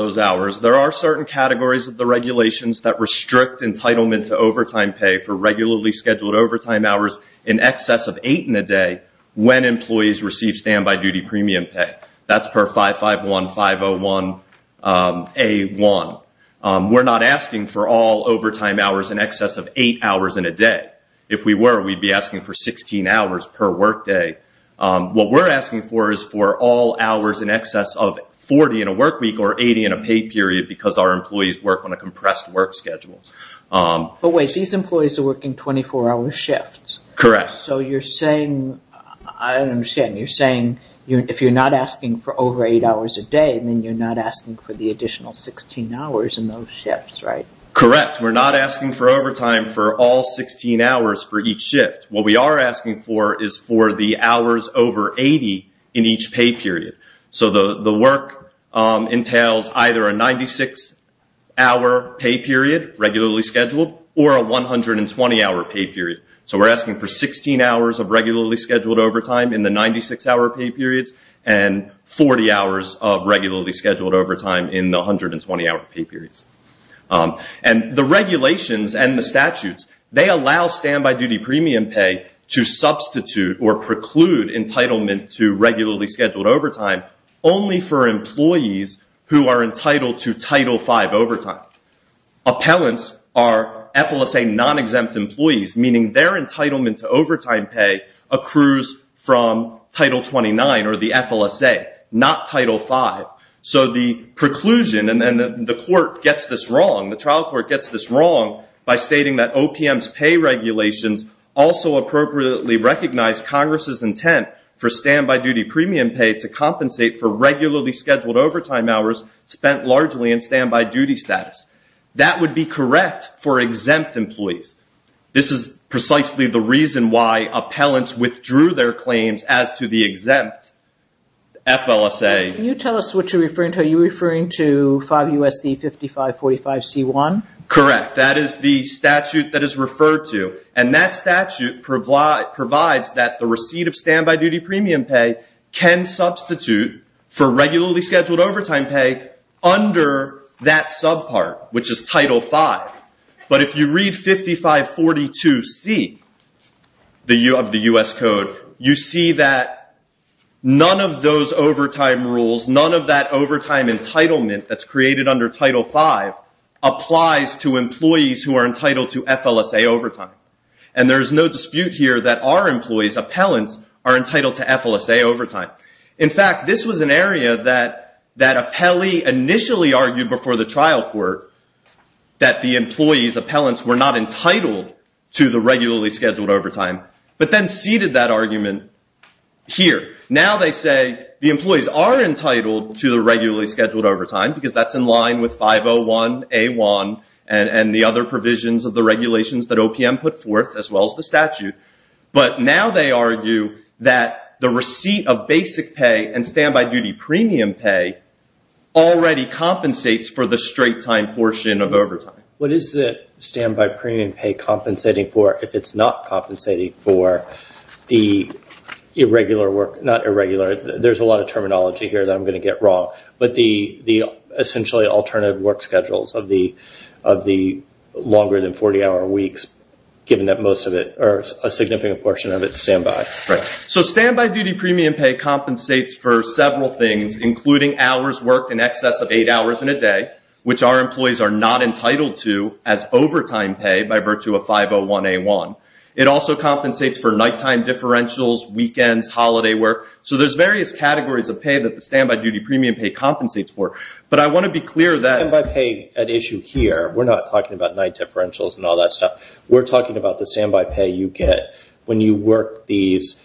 Case for argument this morning is 15-5149 Alamo v. United States Case for argument this morning is 15-5149 Alamo v. United States Case for argument this morning is 15-5149 Alamo v. United States Case for argument this morning is 15-5149 Alamo v. United States Case for argument this morning is 15-5149 Alamo v. United States If you're not asking for over 8 hours a day, then you're not asking for the additional 16 hours in those shifts, right? Correct. We're not asking for overtime for all 16 hours for each shift. What we are asking for is for the hours over 80 in each pay period. The work entails either a 96-hour pay period regularly scheduled or a 120-hour pay period. We're asking for 16 hours of regularly scheduled overtime in the 96-hour pay periods and 40 hours of regularly scheduled overtime in the 120-hour pay periods. The regulations and the statutes, they allow standby duty premium pay to substitute or preclude entitlement to regularly scheduled overtime only for employees who are entitled to Title V overtime. Appellants are FLSA non-exempt employees, meaning their entitlement to overtime pay accrues from Title 29 or the FLSA, not Title V. So the preclusion, and the court gets this wrong, the trial court gets this wrong by stating that OPM's pay regulations also appropriately recognize Congress's intent for standby duty premium pay to compensate for regularly scheduled overtime hours spent largely in standby duty status. That would be correct for exempt employees. This is precisely the reason why appellants withdrew their claims as to the exempt FLSA. Can you tell us what you're referring to? Are you referring to 5 U.S.C. 5545 C.1? Correct. That is the statute that is referred to, and that statute provides that the receipt of standby duty premium pay can substitute for regularly scheduled overtime pay under that subpart, which is Title V. But if you read 5542 C. of the U.S. Code, you see that none of those overtime rules, none of that overtime entitlement that's created under Title V applies to employees who are entitled to FLSA overtime. And there's no dispute here that our employees, appellants, are entitled to FLSA overtime. In fact, this was an area that appellee initially argued before the trial court that the employee's appellants were not entitled to the regularly scheduled overtime, but then ceded that argument here. Now they say the employees are entitled to the regularly scheduled overtime because that's in line with 501A1 and the other provisions of the regulations that OPM put forth as well as the statute. But now they argue that the receipt of basic pay and standby duty premium pay already compensates for the straight-time portion of overtime. What is the standby premium pay compensating for if it's not compensating for the irregular work, not irregular, there's a lot of terminology here that I'm going to get wrong, but the essentially alternative work schedules of the longer than 40-hour weeks, given that a significant portion of it is standby. So standby duty premium pay compensates for several things including hours worked in excess of eight hours in a day, which our employees are not entitled to as overtime pay by virtue of 501A1. It also compensates for nighttime differentials, weekends, holiday work. So there's various categories of pay that the standby duty premium pay compensates for. But I want to be clear that... And by pay at issue here, we're not talking about night differentials and all that stuff. We're talking about the standby pay you get when you work these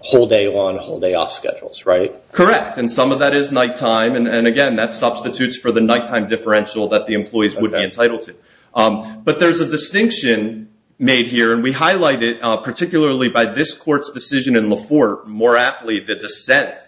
whole-day on, whole-day off schedules, right? Correct. And some of that is nighttime. And again, that substitutes for the nighttime differential that the employees would be entitled to. But there's a distinction made here, and we highlight it particularly by this court's decision in Laforte, more aptly the dissent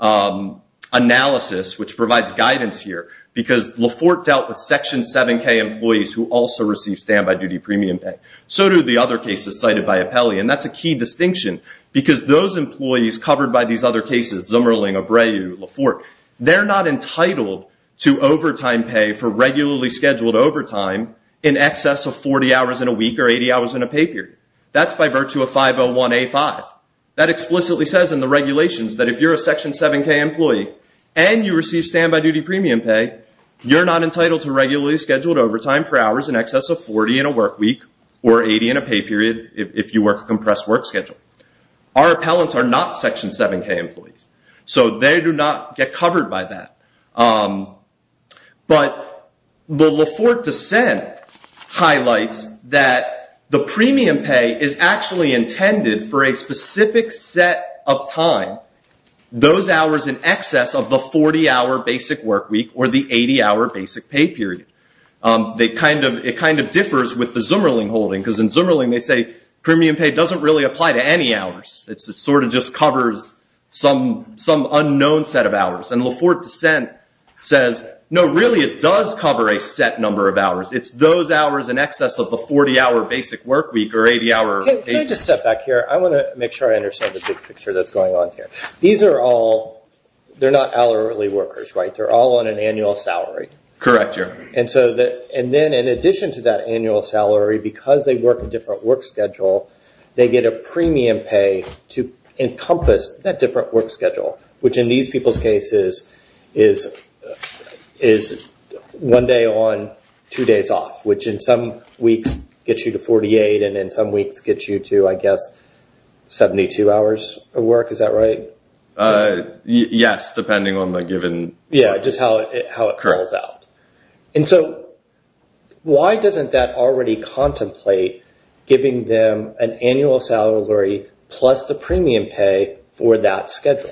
analysis which provides guidance here. Because Laforte dealt with Section 7K employees who also receive standby duty premium pay. So do the other cases cited by Apelli. And that's a key distinction because those employees covered by these other cases, Zimmerling, Abreu, Laforte, they're not entitled to overtime pay for regularly scheduled overtime in excess of 40 hours in a week or 80 hours in a pay period. That's by virtue of 501A5. That explicitly says in the regulations that if you're a Section 7K employee and you receive standby duty premium pay, you're not entitled to regularly scheduled overtime for hours in excess of 40 in a work week or 80 in a pay period if you work a compressed work schedule. Our appellants are not Section 7K employees. So they do not get covered by that. But the Laforte dissent highlights that the premium pay is actually intended for a specific set of time, those hours in excess of the 40-hour basic work week or the 80-hour basic pay period. It kind of differs with the Zimmerling holding. Because in Zimmerling they say premium pay doesn't really apply to any hours. It sort of just covers some unknown set of hours. And Laforte dissent says, no, really it does cover a set number of hours. It's those hours in excess of the 40-hour basic work week or 80-hour... Can I just step back here? I want to make sure I understand the big picture that's going on here. These are all... They're not hourly workers, right? They're all on an annual salary. Correct, yeah. And then in addition to that annual salary, because they work a different work schedule, they get a premium pay to encompass that different work schedule, which in these people's cases is one day on, two days off, which in some weeks gets you to 48 and in some weeks gets you to, I guess, 72 hours of work. Is that right? Yes, depending on the given... Yeah, just how it curls out. And so why doesn't that already contemplate giving them an annual salary plus the premium pay for that schedule?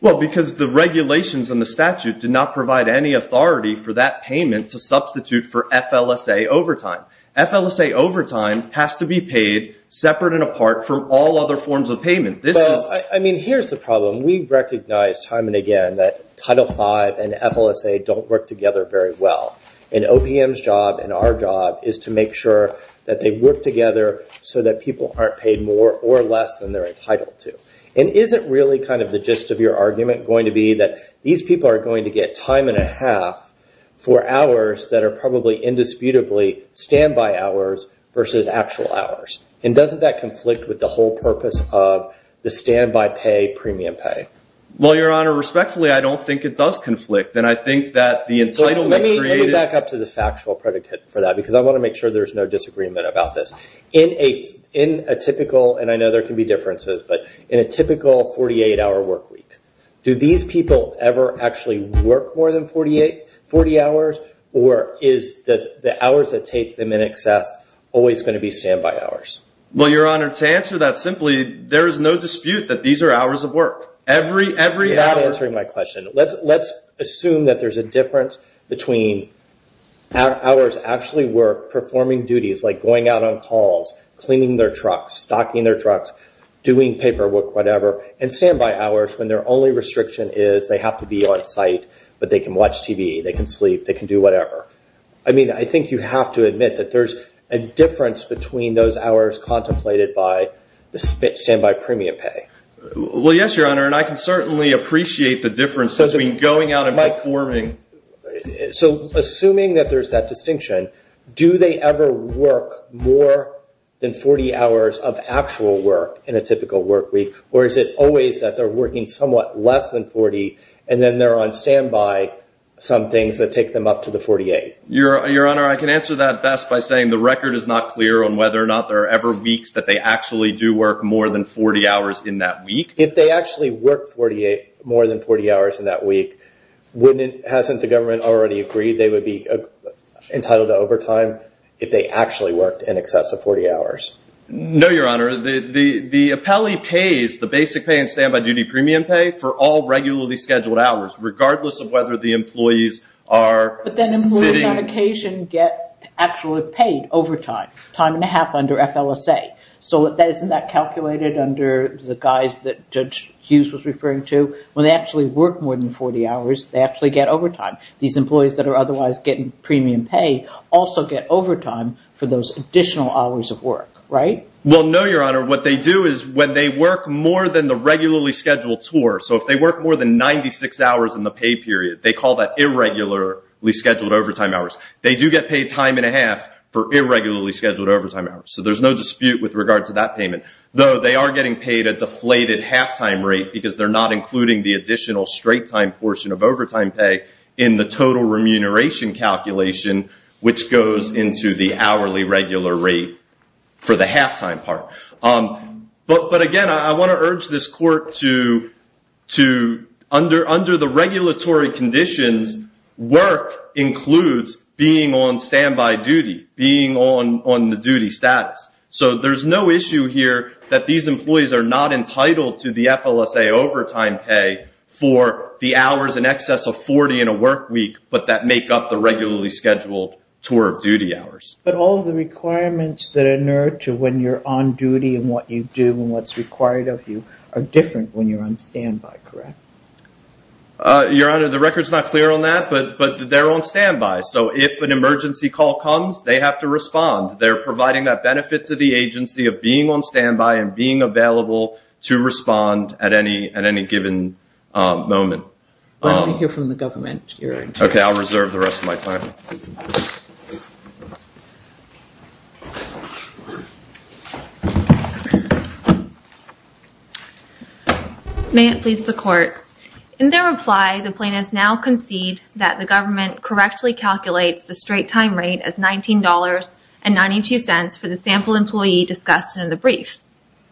Well, because the regulations and the statute did not provide any authority for that payment to substitute for FLSA overtime. FLSA overtime has to be paid separate and apart from all other forms of payment. Well, I mean, here's the problem. We recognize time and again that Title V and FLSA don't work together very well. And OPM's job and our job is to make sure that they work together so that people aren't paid more or less than they're entitled to. And is it really kind of the gist of your argument going to be that these people are going to get time and a half for hours that are probably indisputably standby hours versus actual hours? And doesn't that conflict with the whole purpose of the standby pay premium pay? Well, Your Honor, respectfully, I don't think it does conflict. And I think that the entitlement created... Let me back up to the factual predicate for that because I want to make sure there's no disagreement about this. In a typical, and I know there can be differences, but in a typical work week, do these people ever actually work more than 40 hours or is the hours that take them in excess always going to be standby hours? Well, Your Honor, to answer that simply, there is no dispute that these are hours of work. Every hour... You're not answering my question. Let's assume that there's a difference between hours actually work performing duties like going out on calls, cleaning their trucks, stocking their trucks, doing paperwork, whatever, and standby hours when their only restriction is they have to be on site, but they can watch TV, they can sleep, they can do whatever. I mean, I think you have to admit that there's a difference between those hours contemplated by the standby premium pay. Well, yes, Your Honor, and I can certainly appreciate the difference between going out and performing. So assuming that there's that distinction, do they ever work more than 40 hours of actual work in a typical work week or is it always that they're working somewhat less than 40 and then they're on standby some things that take them up to the 48? Your Honor, I can answer that best by saying the record is not clear on whether or not there are ever weeks that they actually do work more than 40 hours in that week. If they actually work more than 40 hours in that week, hasn't the government already agreed they would be entitled to overtime if they actually worked in excess of 40 hours? No, Your Honor. The appellee pays the basic pay and standby duty premium pay for all regularly scheduled hours regardless of whether the employees are sitting... But then employees on occasion get actually paid overtime, time and a half under FLSA. So isn't that calculated under the guise that Judge Hughes was referring to? When they actually work more than 40 hours, they actually get overtime. These employees that are otherwise getting premium pay also get overtime for those additional hours of work, right? Well, no, Your Honor. What they do is when they work more than the regularly scheduled tour, so if they work more than 96 hours in the pay period, they call that irregularly scheduled overtime hours. They do get paid time and a half for irregularly scheduled overtime hours. So there's no dispute with regard to that payment. Though they are getting paid a deflated halftime rate because they're not including the additional straight time portion of overtime pay in the total remuneration calculation, which goes into the hourly regular rate for the halftime part. But again, I want to urge this court to... Under the regulatory conditions, work includes being on standby duty, being on the duty status. So there's no issue here that these employees are not entitled to the FLSA overtime pay for the hours in excess of 40 in a work week, but that make up the regularly scheduled tour of duty hours. But all of the requirements that inert to when you're on duty and what you do and what's required of you are different when you're on standby, correct? Your Honor, the record's not clear on that, but they're on standby. So if an emergency call comes, they have to respond. They're providing that benefit to the agency of being on standby and being available to respond at any given moment. Why don't we hear from the government, Your Honor? Okay, I'll reserve the rest of my time. May it please the court. In their reply, the plaintiffs now concede that the government correctly calculates the straight time rate as $19.92 for the sample employee discussed in the brief.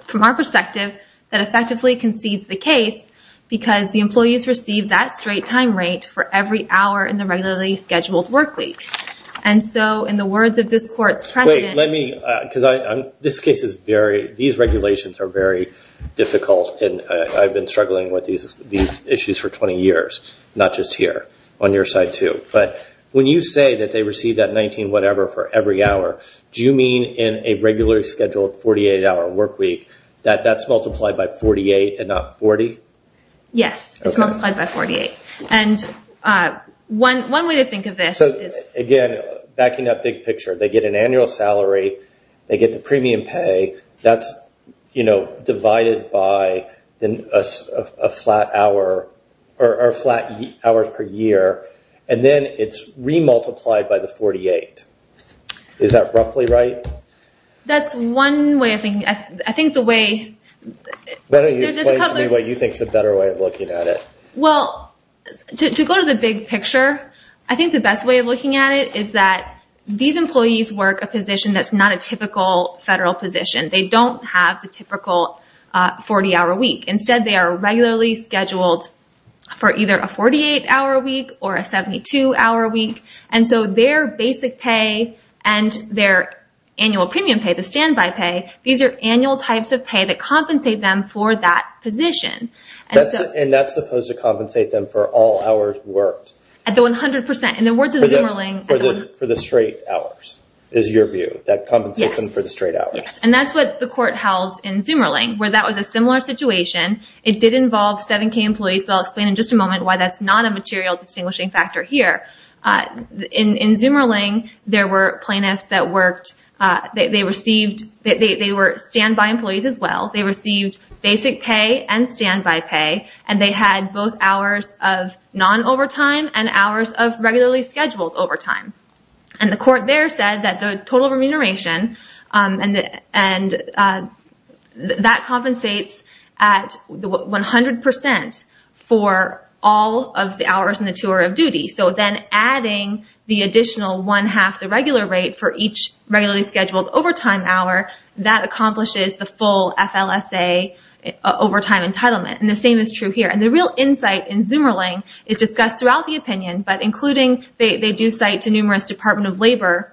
From our perspective, that effectively concedes the case because the employees receive that straight time rate for every hour in the regularly scheduled work week. And so in the words of this court's president- Wait, let me, because this case is very, these regulations are very difficult and I've been struggling with these issues for 20 years, not just here, on your side too. But when you say that they receive that 19 whatever for every hour, do you mean in a regularly scheduled 48 hour work week, that that's multiplied by 48 and not 40? Yes, it's multiplied by 48. And one way to think of this is- So again, backing that big picture, they get an annual salary, they get the premium pay, that's divided by a flat hour per year, and then it's re-multiplied by the 48. Is that roughly right? That's one way of thinking. I think the way- Why don't you explain to me what you think is a better way of looking at it? Well, to go to the big picture, I think the best way of looking at it is that these employees work a position that's not a typical federal position. They don't have the typical 40 hour week. Instead, they are regularly scheduled for either a 48 hour week or a 72 hour week. So their basic pay and their annual premium pay, the standby pay, these are annual types of pay that compensate them for that position. And that's supposed to compensate them for all hours worked? At the 100%. In the words of Zummerling- For the straight hours, is your view? That compensates them for the straight hours? Yes. And that's what the court held in Zummerling, where that was a similar situation. It did involve 7K employees, but I'll explain in just a moment why that's not a material distinguishing factor here. In Zummerling, there were plaintiffs that worked- They received- They were standby employees as well. They received basic pay and standby pay, and they had both hours of non-overtime and hours of regularly scheduled overtime. And the court there said that the total remuneration, and that compensates at 100% for all of the two-hour of duty. So then adding the additional one-half the regular rate for each regularly scheduled overtime hour, that accomplishes the full FLSA overtime entitlement. And the same is true here. And the real insight in Zummerling is discussed throughout the opinion, but including- They do cite to numerous Department of Labor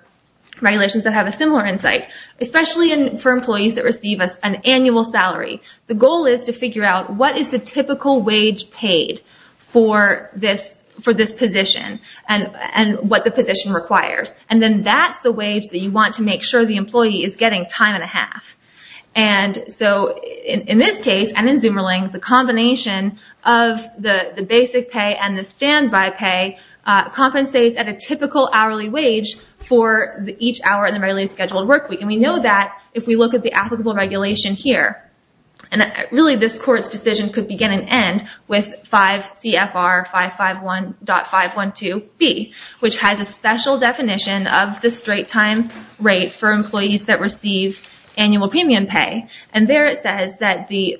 regulations that have a similar insight, especially for employees that receive an annual salary. The goal is to figure out what is the typical wage paid for this position and what the position requires. And then that's the wage that you want to make sure the employee is getting time and a half. And so in this case, and in Zummerling, the combination of the basic pay and the standby pay compensates at a typical hourly wage for each hour in the regularly scheduled work week. And we know that if we look at the applicable regulation here. And really this court's decision could begin and end with 5 CFR 551.512B, which has a special definition of the straight time rate for employees that receive annual premium pay. And there it says that the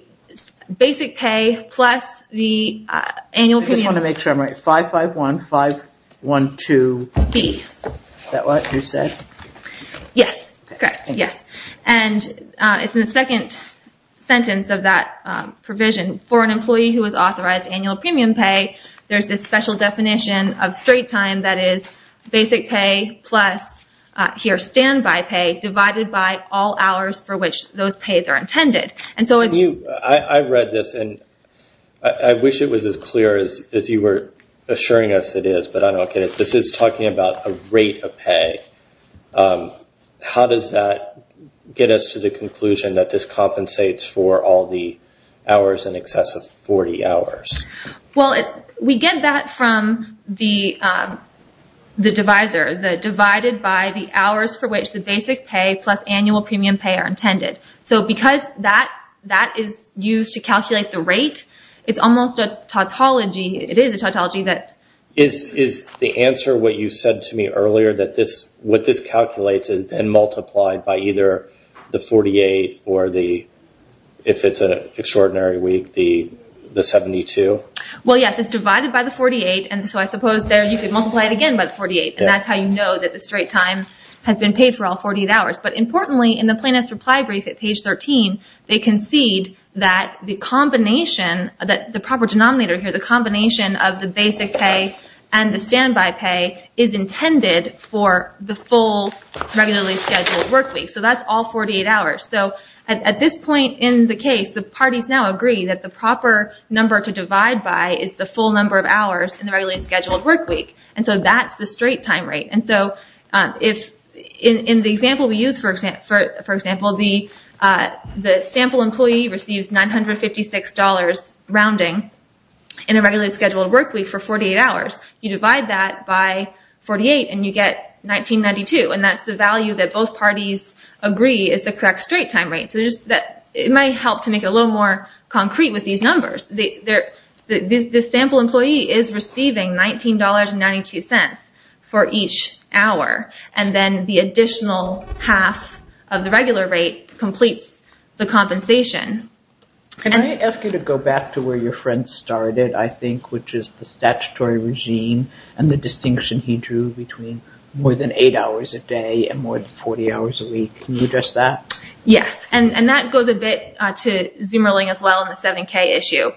basic pay plus the annual premium- I just want to make sure I'm right. 551.512B. Is that what you said? Yes, correct. Yes. And it's in the second sentence of that provision. For an employee who is authorized annual premium pay, there's this special definition of straight time that is basic pay plus here standby pay divided by all hours for which those pays are intended. I read this and I wish it was as clear as you were assuring us it is, but I don't get it. This is talking about a rate of pay. How does that get us to the conclusion that this compensates for all the hours in excess of 40 hours? Well, we get that from the divisor, the divided by the hours for which the basic pay plus annual premium pay are intended. So because that is used to calculate the rate, it's almost a tautology. It is a tautology that- Is the answer what you said to me earlier, that what this calculates is then multiplied by either the 48 or the, if it's an extraordinary week, the 72? Well, yes. It's divided by the 48, and so I suppose there you could multiply it again by the 48, and that's how you know that the straight time has been paid for all 48 hours. But importantly, in the plaintiff's reply brief at page 13, they concede that the combination, that the proper denominator here, the combination of the basic pay and the standby pay is intended for the full regularly scheduled work week. So that's all 48 hours. So at this point in the case, the parties now agree that the proper number to divide by is the full number of hours in the regularly scheduled work week, and so that's the straight time rate. And so if, in the example we used, for example, the sample employee receives $956 rounding in a regularly scheduled work week for 48 hours. You divide that by 48 and you get 1992, and that's the value that both parties agree is the correct straight time rate. So it might help to make it a little more concrete with these numbers. The sample employee is receiving $19.92 for each hour, and then the additional half of the regular rate completes the compensation. Can I ask you to go back to where your friend started, I think, which is the statutory regime and the distinction he drew between more than eight hours a day and more than 40 hours a week. Can you address that? Yes, and that goes a bit to Zoomerling as well in the 7K issue.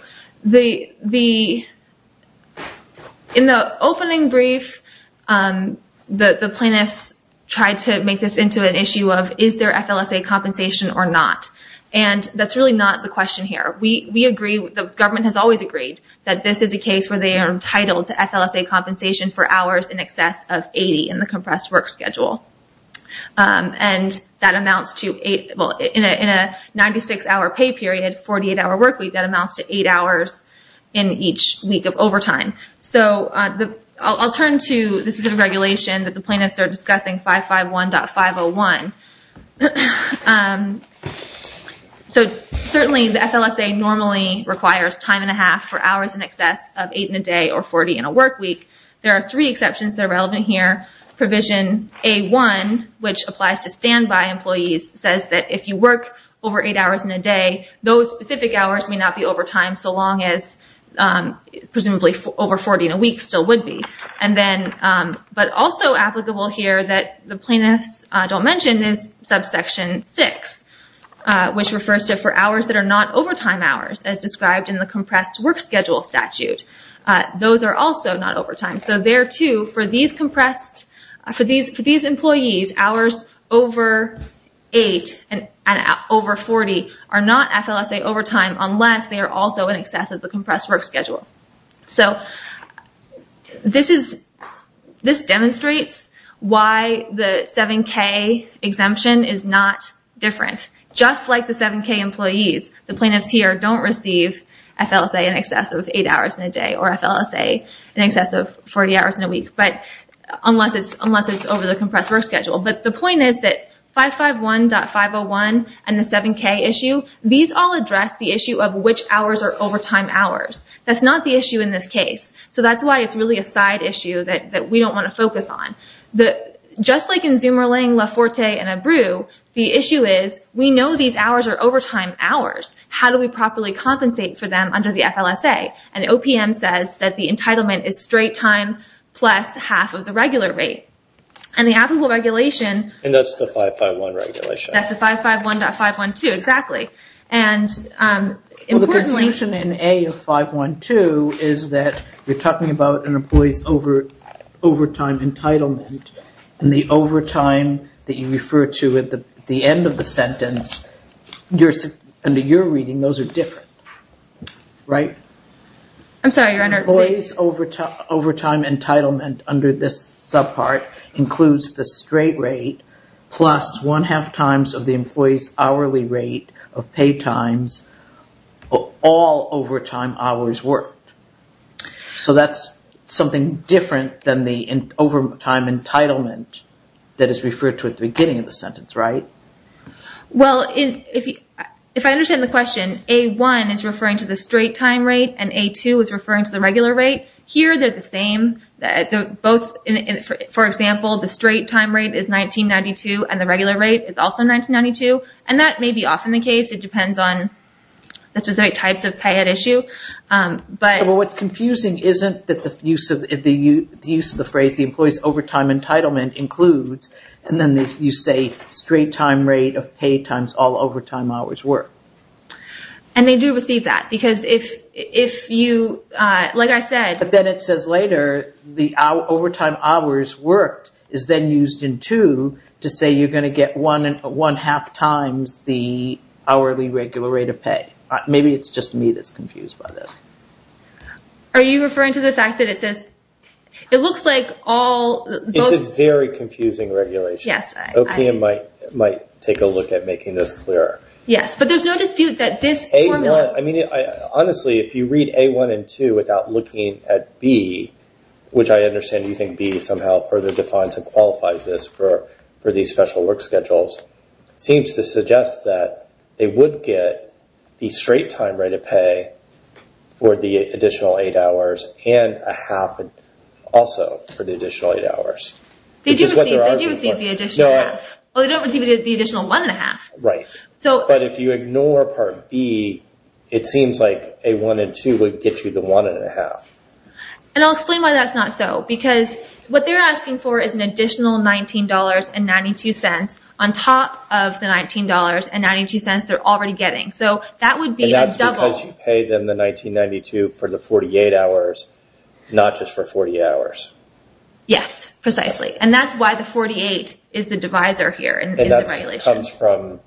In the opening brief, the plaintiffs tried to make this into an issue of, is there FLSA compensation or not? And that's really not the question here. We agree, the government has always agreed, that this is a case where they are entitled to FLSA compensation for hours in excess of 80 in the compressed work schedule. And in a 96-hour pay period, 48-hour work week, that amounts to eight hours in each week of overtime. So I'll turn to the specific regulation that the plaintiffs are discussing, 551.501. So certainly the FLSA normally requires time and a half for hours in excess of eight in a day or 40 in a work week. There are three exceptions that are relevant here. Provision A-1, which applies to standby employees, says that if you work over eight hours in a day, those specific hours may not be overtime so long as, presumably, over 40 in a week still would be. But also applicable here that the plaintiffs don't mention is subsection 6, which refers to for hours that are not overtime hours, as described in the compressed work schedule statute. Those are also not overtime. So there too, for these employees, hours over eight and over 40 are not FLSA overtime unless they are also in excess of the compressed work schedule. So this demonstrates why the 7K exemption is not different. Just like the 7K employees, the plaintiffs here don't receive FLSA in excess of eight hours in a day or FLSA in excess of 40 hours in a week unless it's over the compressed work schedule. But the point is that 551.501 and the 7K issue, these all address the issue of which hours are overtime hours. That's not the issue in this case. So that's why it's really a side issue that we don't want to focus on. Just like in Zumerling, Laforte, and Abreu, the issue is we know these hours are overtime hours. How do we properly compensate for them under the FLSA? And OPM says that the entitlement is straight time plus half of the regular rate. And the applicable regulation... And that's the 551 regulation. That's the 551.512, exactly. Well, the conclusion in A of 512 is that you're talking about an employee's overtime entitlement. And the overtime that you refer to at the end of the sentence, under your reading, those are different. Right? I'm sorry, Your Honor. Employee's overtime entitlement under this subpart includes the straight rate plus one-half times of the pay times of all overtime hours worked. So that's something different than the overtime entitlement that is referred to at the beginning of the sentence. Right? Well, if I understand the question, A1 is referring to the straight time rate and A2 is referring to the regular rate. Here, they're the same. For example, the straight time rate is 19.92 and the regular rate is also 19.92. And that may be often the case. It depends on the specific types of pay at issue. But... Well, what's confusing isn't the use of the phrase, the employee's overtime entitlement includes, and then you say, straight time rate of pay times all overtime hours worked. And they do receive that because if you, like I said... But then it says later, the overtime hours worked is then used in two to say you're going to get one-half times the hourly regular rate of pay. Maybe it's just me that's confused by this. Are you referring to the fact that it says... It looks like all... It's a very confusing regulation. Yes. OPM might take a look at making this clearer. Yes, but there's no dispute that this formula... Honestly, if you read A1 and 2 without looking at B, which I understand you think B somehow further defines and qualifies this for these special work schedules, it seems to suggest that they would get the straight time rate of pay for the additional eight hours and a half also for the additional eight hours. They do receive the additional half. Well, they don't receive the additional one-and-a-half. Right. But if you ignore Part B, it seems like A1 and 2 would get you the one-and-a-half. And I'll explain why that's not so. Because what they're asking for is an additional $19.92 on top of the $19.92 they're already getting. So that would be a double... And that's because you paid them the $19.92 for the 48 hours, not just for 40 hours. Yes, precisely. And that's why the 48 is the divisor here in the regulation. That comes from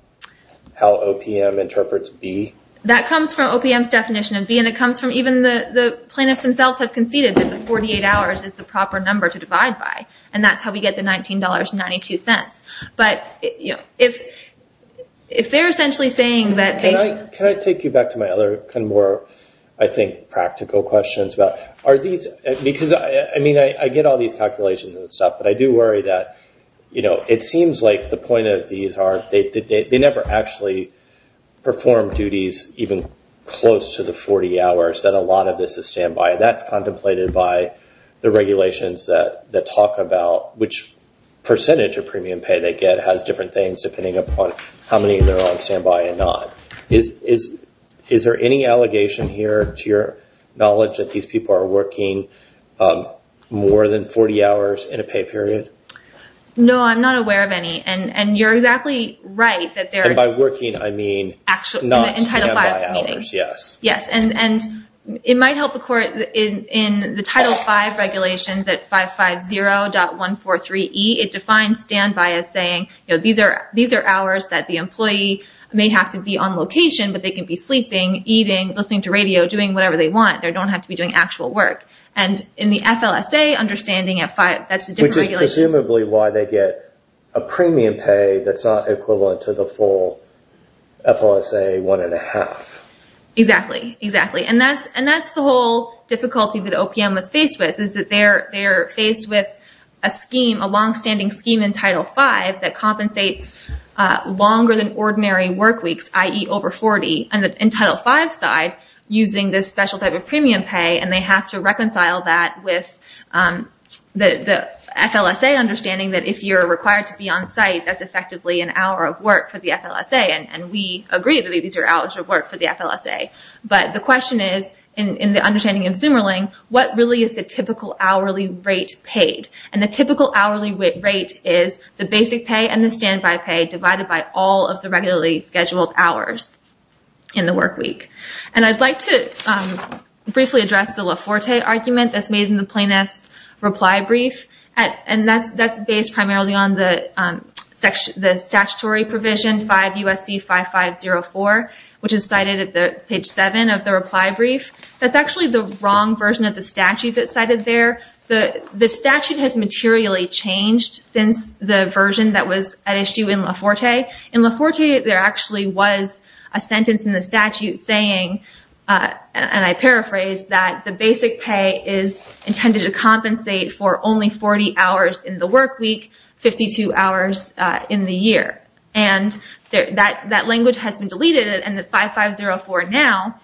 how OPM interprets B? That comes from OPM's definition of B, and it comes from even the plaintiffs themselves have conceded that the 48 hours is the proper number to divide by. And that's how we get the $19.92. But if they're essentially saying that they... Can I take you back to my other kind of more, I think, practical questions about... I get all these calculations and stuff, but I do worry that it seems like the point of these are... They never actually perform duties even close to the 40 hours that a lot of this is standby. And that's contemplated by the regulations that talk about which percentage of premium pay they get has different things, depending upon how many of them are on standby and not. Is there any allegation here to your knowledge that these people are working more than 40 hours in a pay period? No, I'm not aware of any. And you're exactly right that they're... And by working, I mean... In Title V, meaning. Not standby hours, yes. Yes. And it might help the court in the Title V regulations at 550.143E, it defines standby as saying, these are hours that the employee may have to be on location, but they can be sleeping, eating, listening to radio, doing whatever they want. They don't have to be doing actual work. And in the FLSA understanding, that's a different regulation. Which is presumably why they get a premium pay that's not equivalent to the full FLSA one and a half. Exactly, exactly. And that's the whole difficulty that OPM was faced with, is that they're faced with a scheme, a longstanding scheme in Title V, that compensates longer than ordinary work weeks, i.e. over 40. And in Title V side, using this special type of premium pay, and they have to reconcile that with the FLSA understanding that if you're required to be on site, that's effectively an hour of work for the FLSA. And we agree that these are hours of work for the FLSA. But the question is, in the understanding of Zummerling, what really is the typical hourly rate paid? And the typical hourly rate is the basic pay and the standby pay, divided by all of the regularly scheduled hours in the work week. And I'd like to briefly address the Laforte argument that's made in the plaintiff's reply brief. And that's based primarily on the statutory provision, 5 U.S.C. 5504, which is cited at page 7 of the reply brief. That's actually the wrong version of the statute that's cited there. The statute has materially changed since the version that was at issue in Laforte. In Laforte, there actually was a sentence in the statute saying, and I paraphrase, that the basic pay is intended to compensate for only 40 hours in the work week, 52 hours in the year. And that language has been deleted. And the 5504 now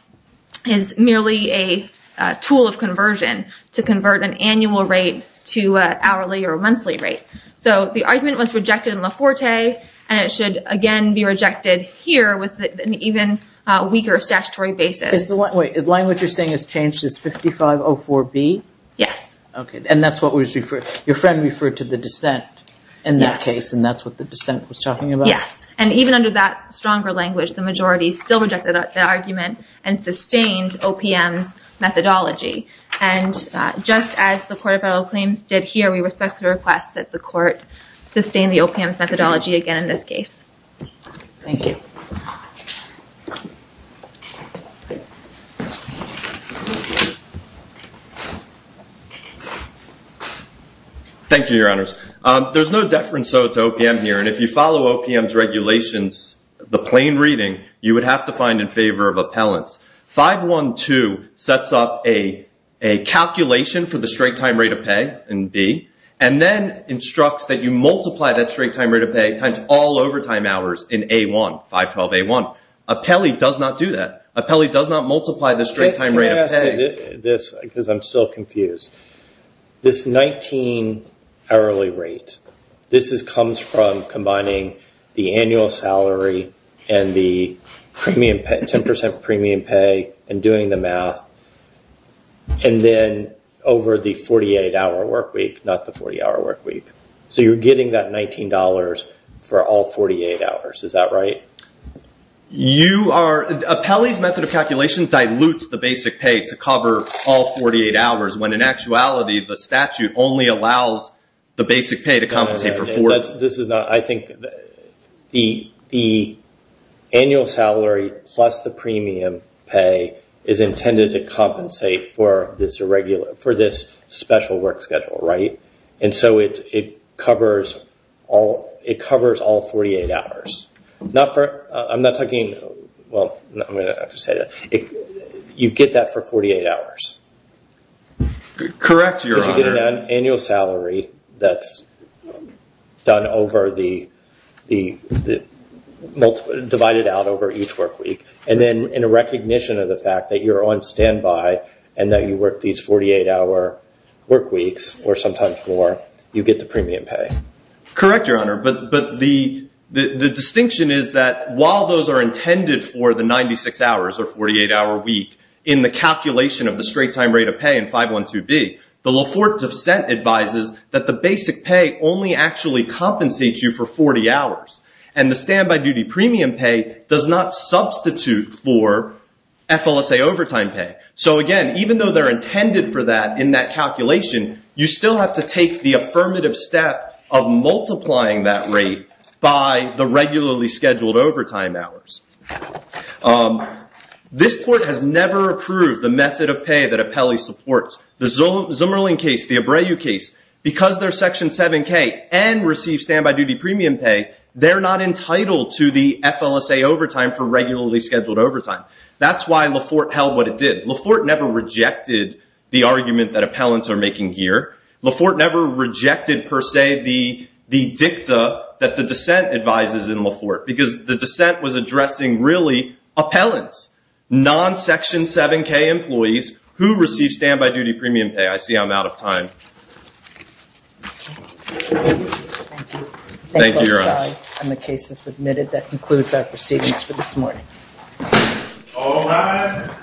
is merely a tool of conversion to convert an annual rate to an hourly or monthly rate. So the argument was rejected in Laforte. And it should, again, be rejected here with an even weaker statutory basis. Wait, the language you're saying has changed to 5504B? Yes. Okay. And that's what was referred, your friend referred to the dissent in that case. Yes. And that's what the dissent was talking about? Yes. And even under that stronger language, the majority still rejected the argument and sustained OPM's methodology. And just as the Court of Federal Claims did here, we respectfully request that the Court sustain the OPM's methodology again in this case. Thank you. Thank you, Your Honors. There's no deference, though, to OPM here. And if you follow OPM's regulations, the plain reading, you would have to find in favor of appellants. 512 sets up a calculation for the straight time rate of pay in B and then instructs that you multiply that straight time rate of pay times all overtime hours in A1, 512A1. Apelli does not do that. Apelli does not multiply the straight time rate of pay. Because I'm still confused. This 19 hourly rate, this comes from combining the annual salary and the 10% premium pay and doing the math, and then over the 48-hour work week, not the 40-hour work week. So you're getting that $19 for all 48 hours. Is that right? Apelli's method of calculation dilutes the basic pay to cover all 48 hours, when in actuality the statute only allows the basic pay to compensate for 14. I think the annual salary plus the premium pay is intended to compensate for this special work schedule. And so it covers all 48 hours. I'm not talking – well, I'm going to have to say that. You get that for 48 hours. Correct, Your Honor. Because you get an annual salary that's divided out over each work week. And then in recognition of the fact that you're on standby and that you work these 48-hour work weeks, or sometimes more, you get the premium pay. Correct, Your Honor. But the distinction is that while those are intended for the 96 hours or 48-hour week, in the calculation of the straight-time rate of pay in 512B, the Laforte dissent advises that the basic pay only actually compensates you for 40 hours. And the standby duty premium pay does not substitute for FLSA overtime pay. So again, even though they're intended for that in that calculation, you still have to take the affirmative step of multiplying that rate by the regularly scheduled overtime hours. This Court has never approved the method of pay that Apelli supports. The Zumerling case, the Abreu case, because they're Section 7K and receive standby duty premium pay, they're not entitled to the FLSA overtime for regularly scheduled overtime. That's why Laforte held what it did. Laforte never rejected the argument that appellants are making here. Laforte never rejected, per se, the dicta that the dissent advises in Laforte, because the dissent was addressing really appellants, non-Section 7K employees, who receive standby duty premium pay. I see I'm out of time. Thank you. Thank you, Your Honor. The case is submitted. That concludes our proceedings for this morning. All rise.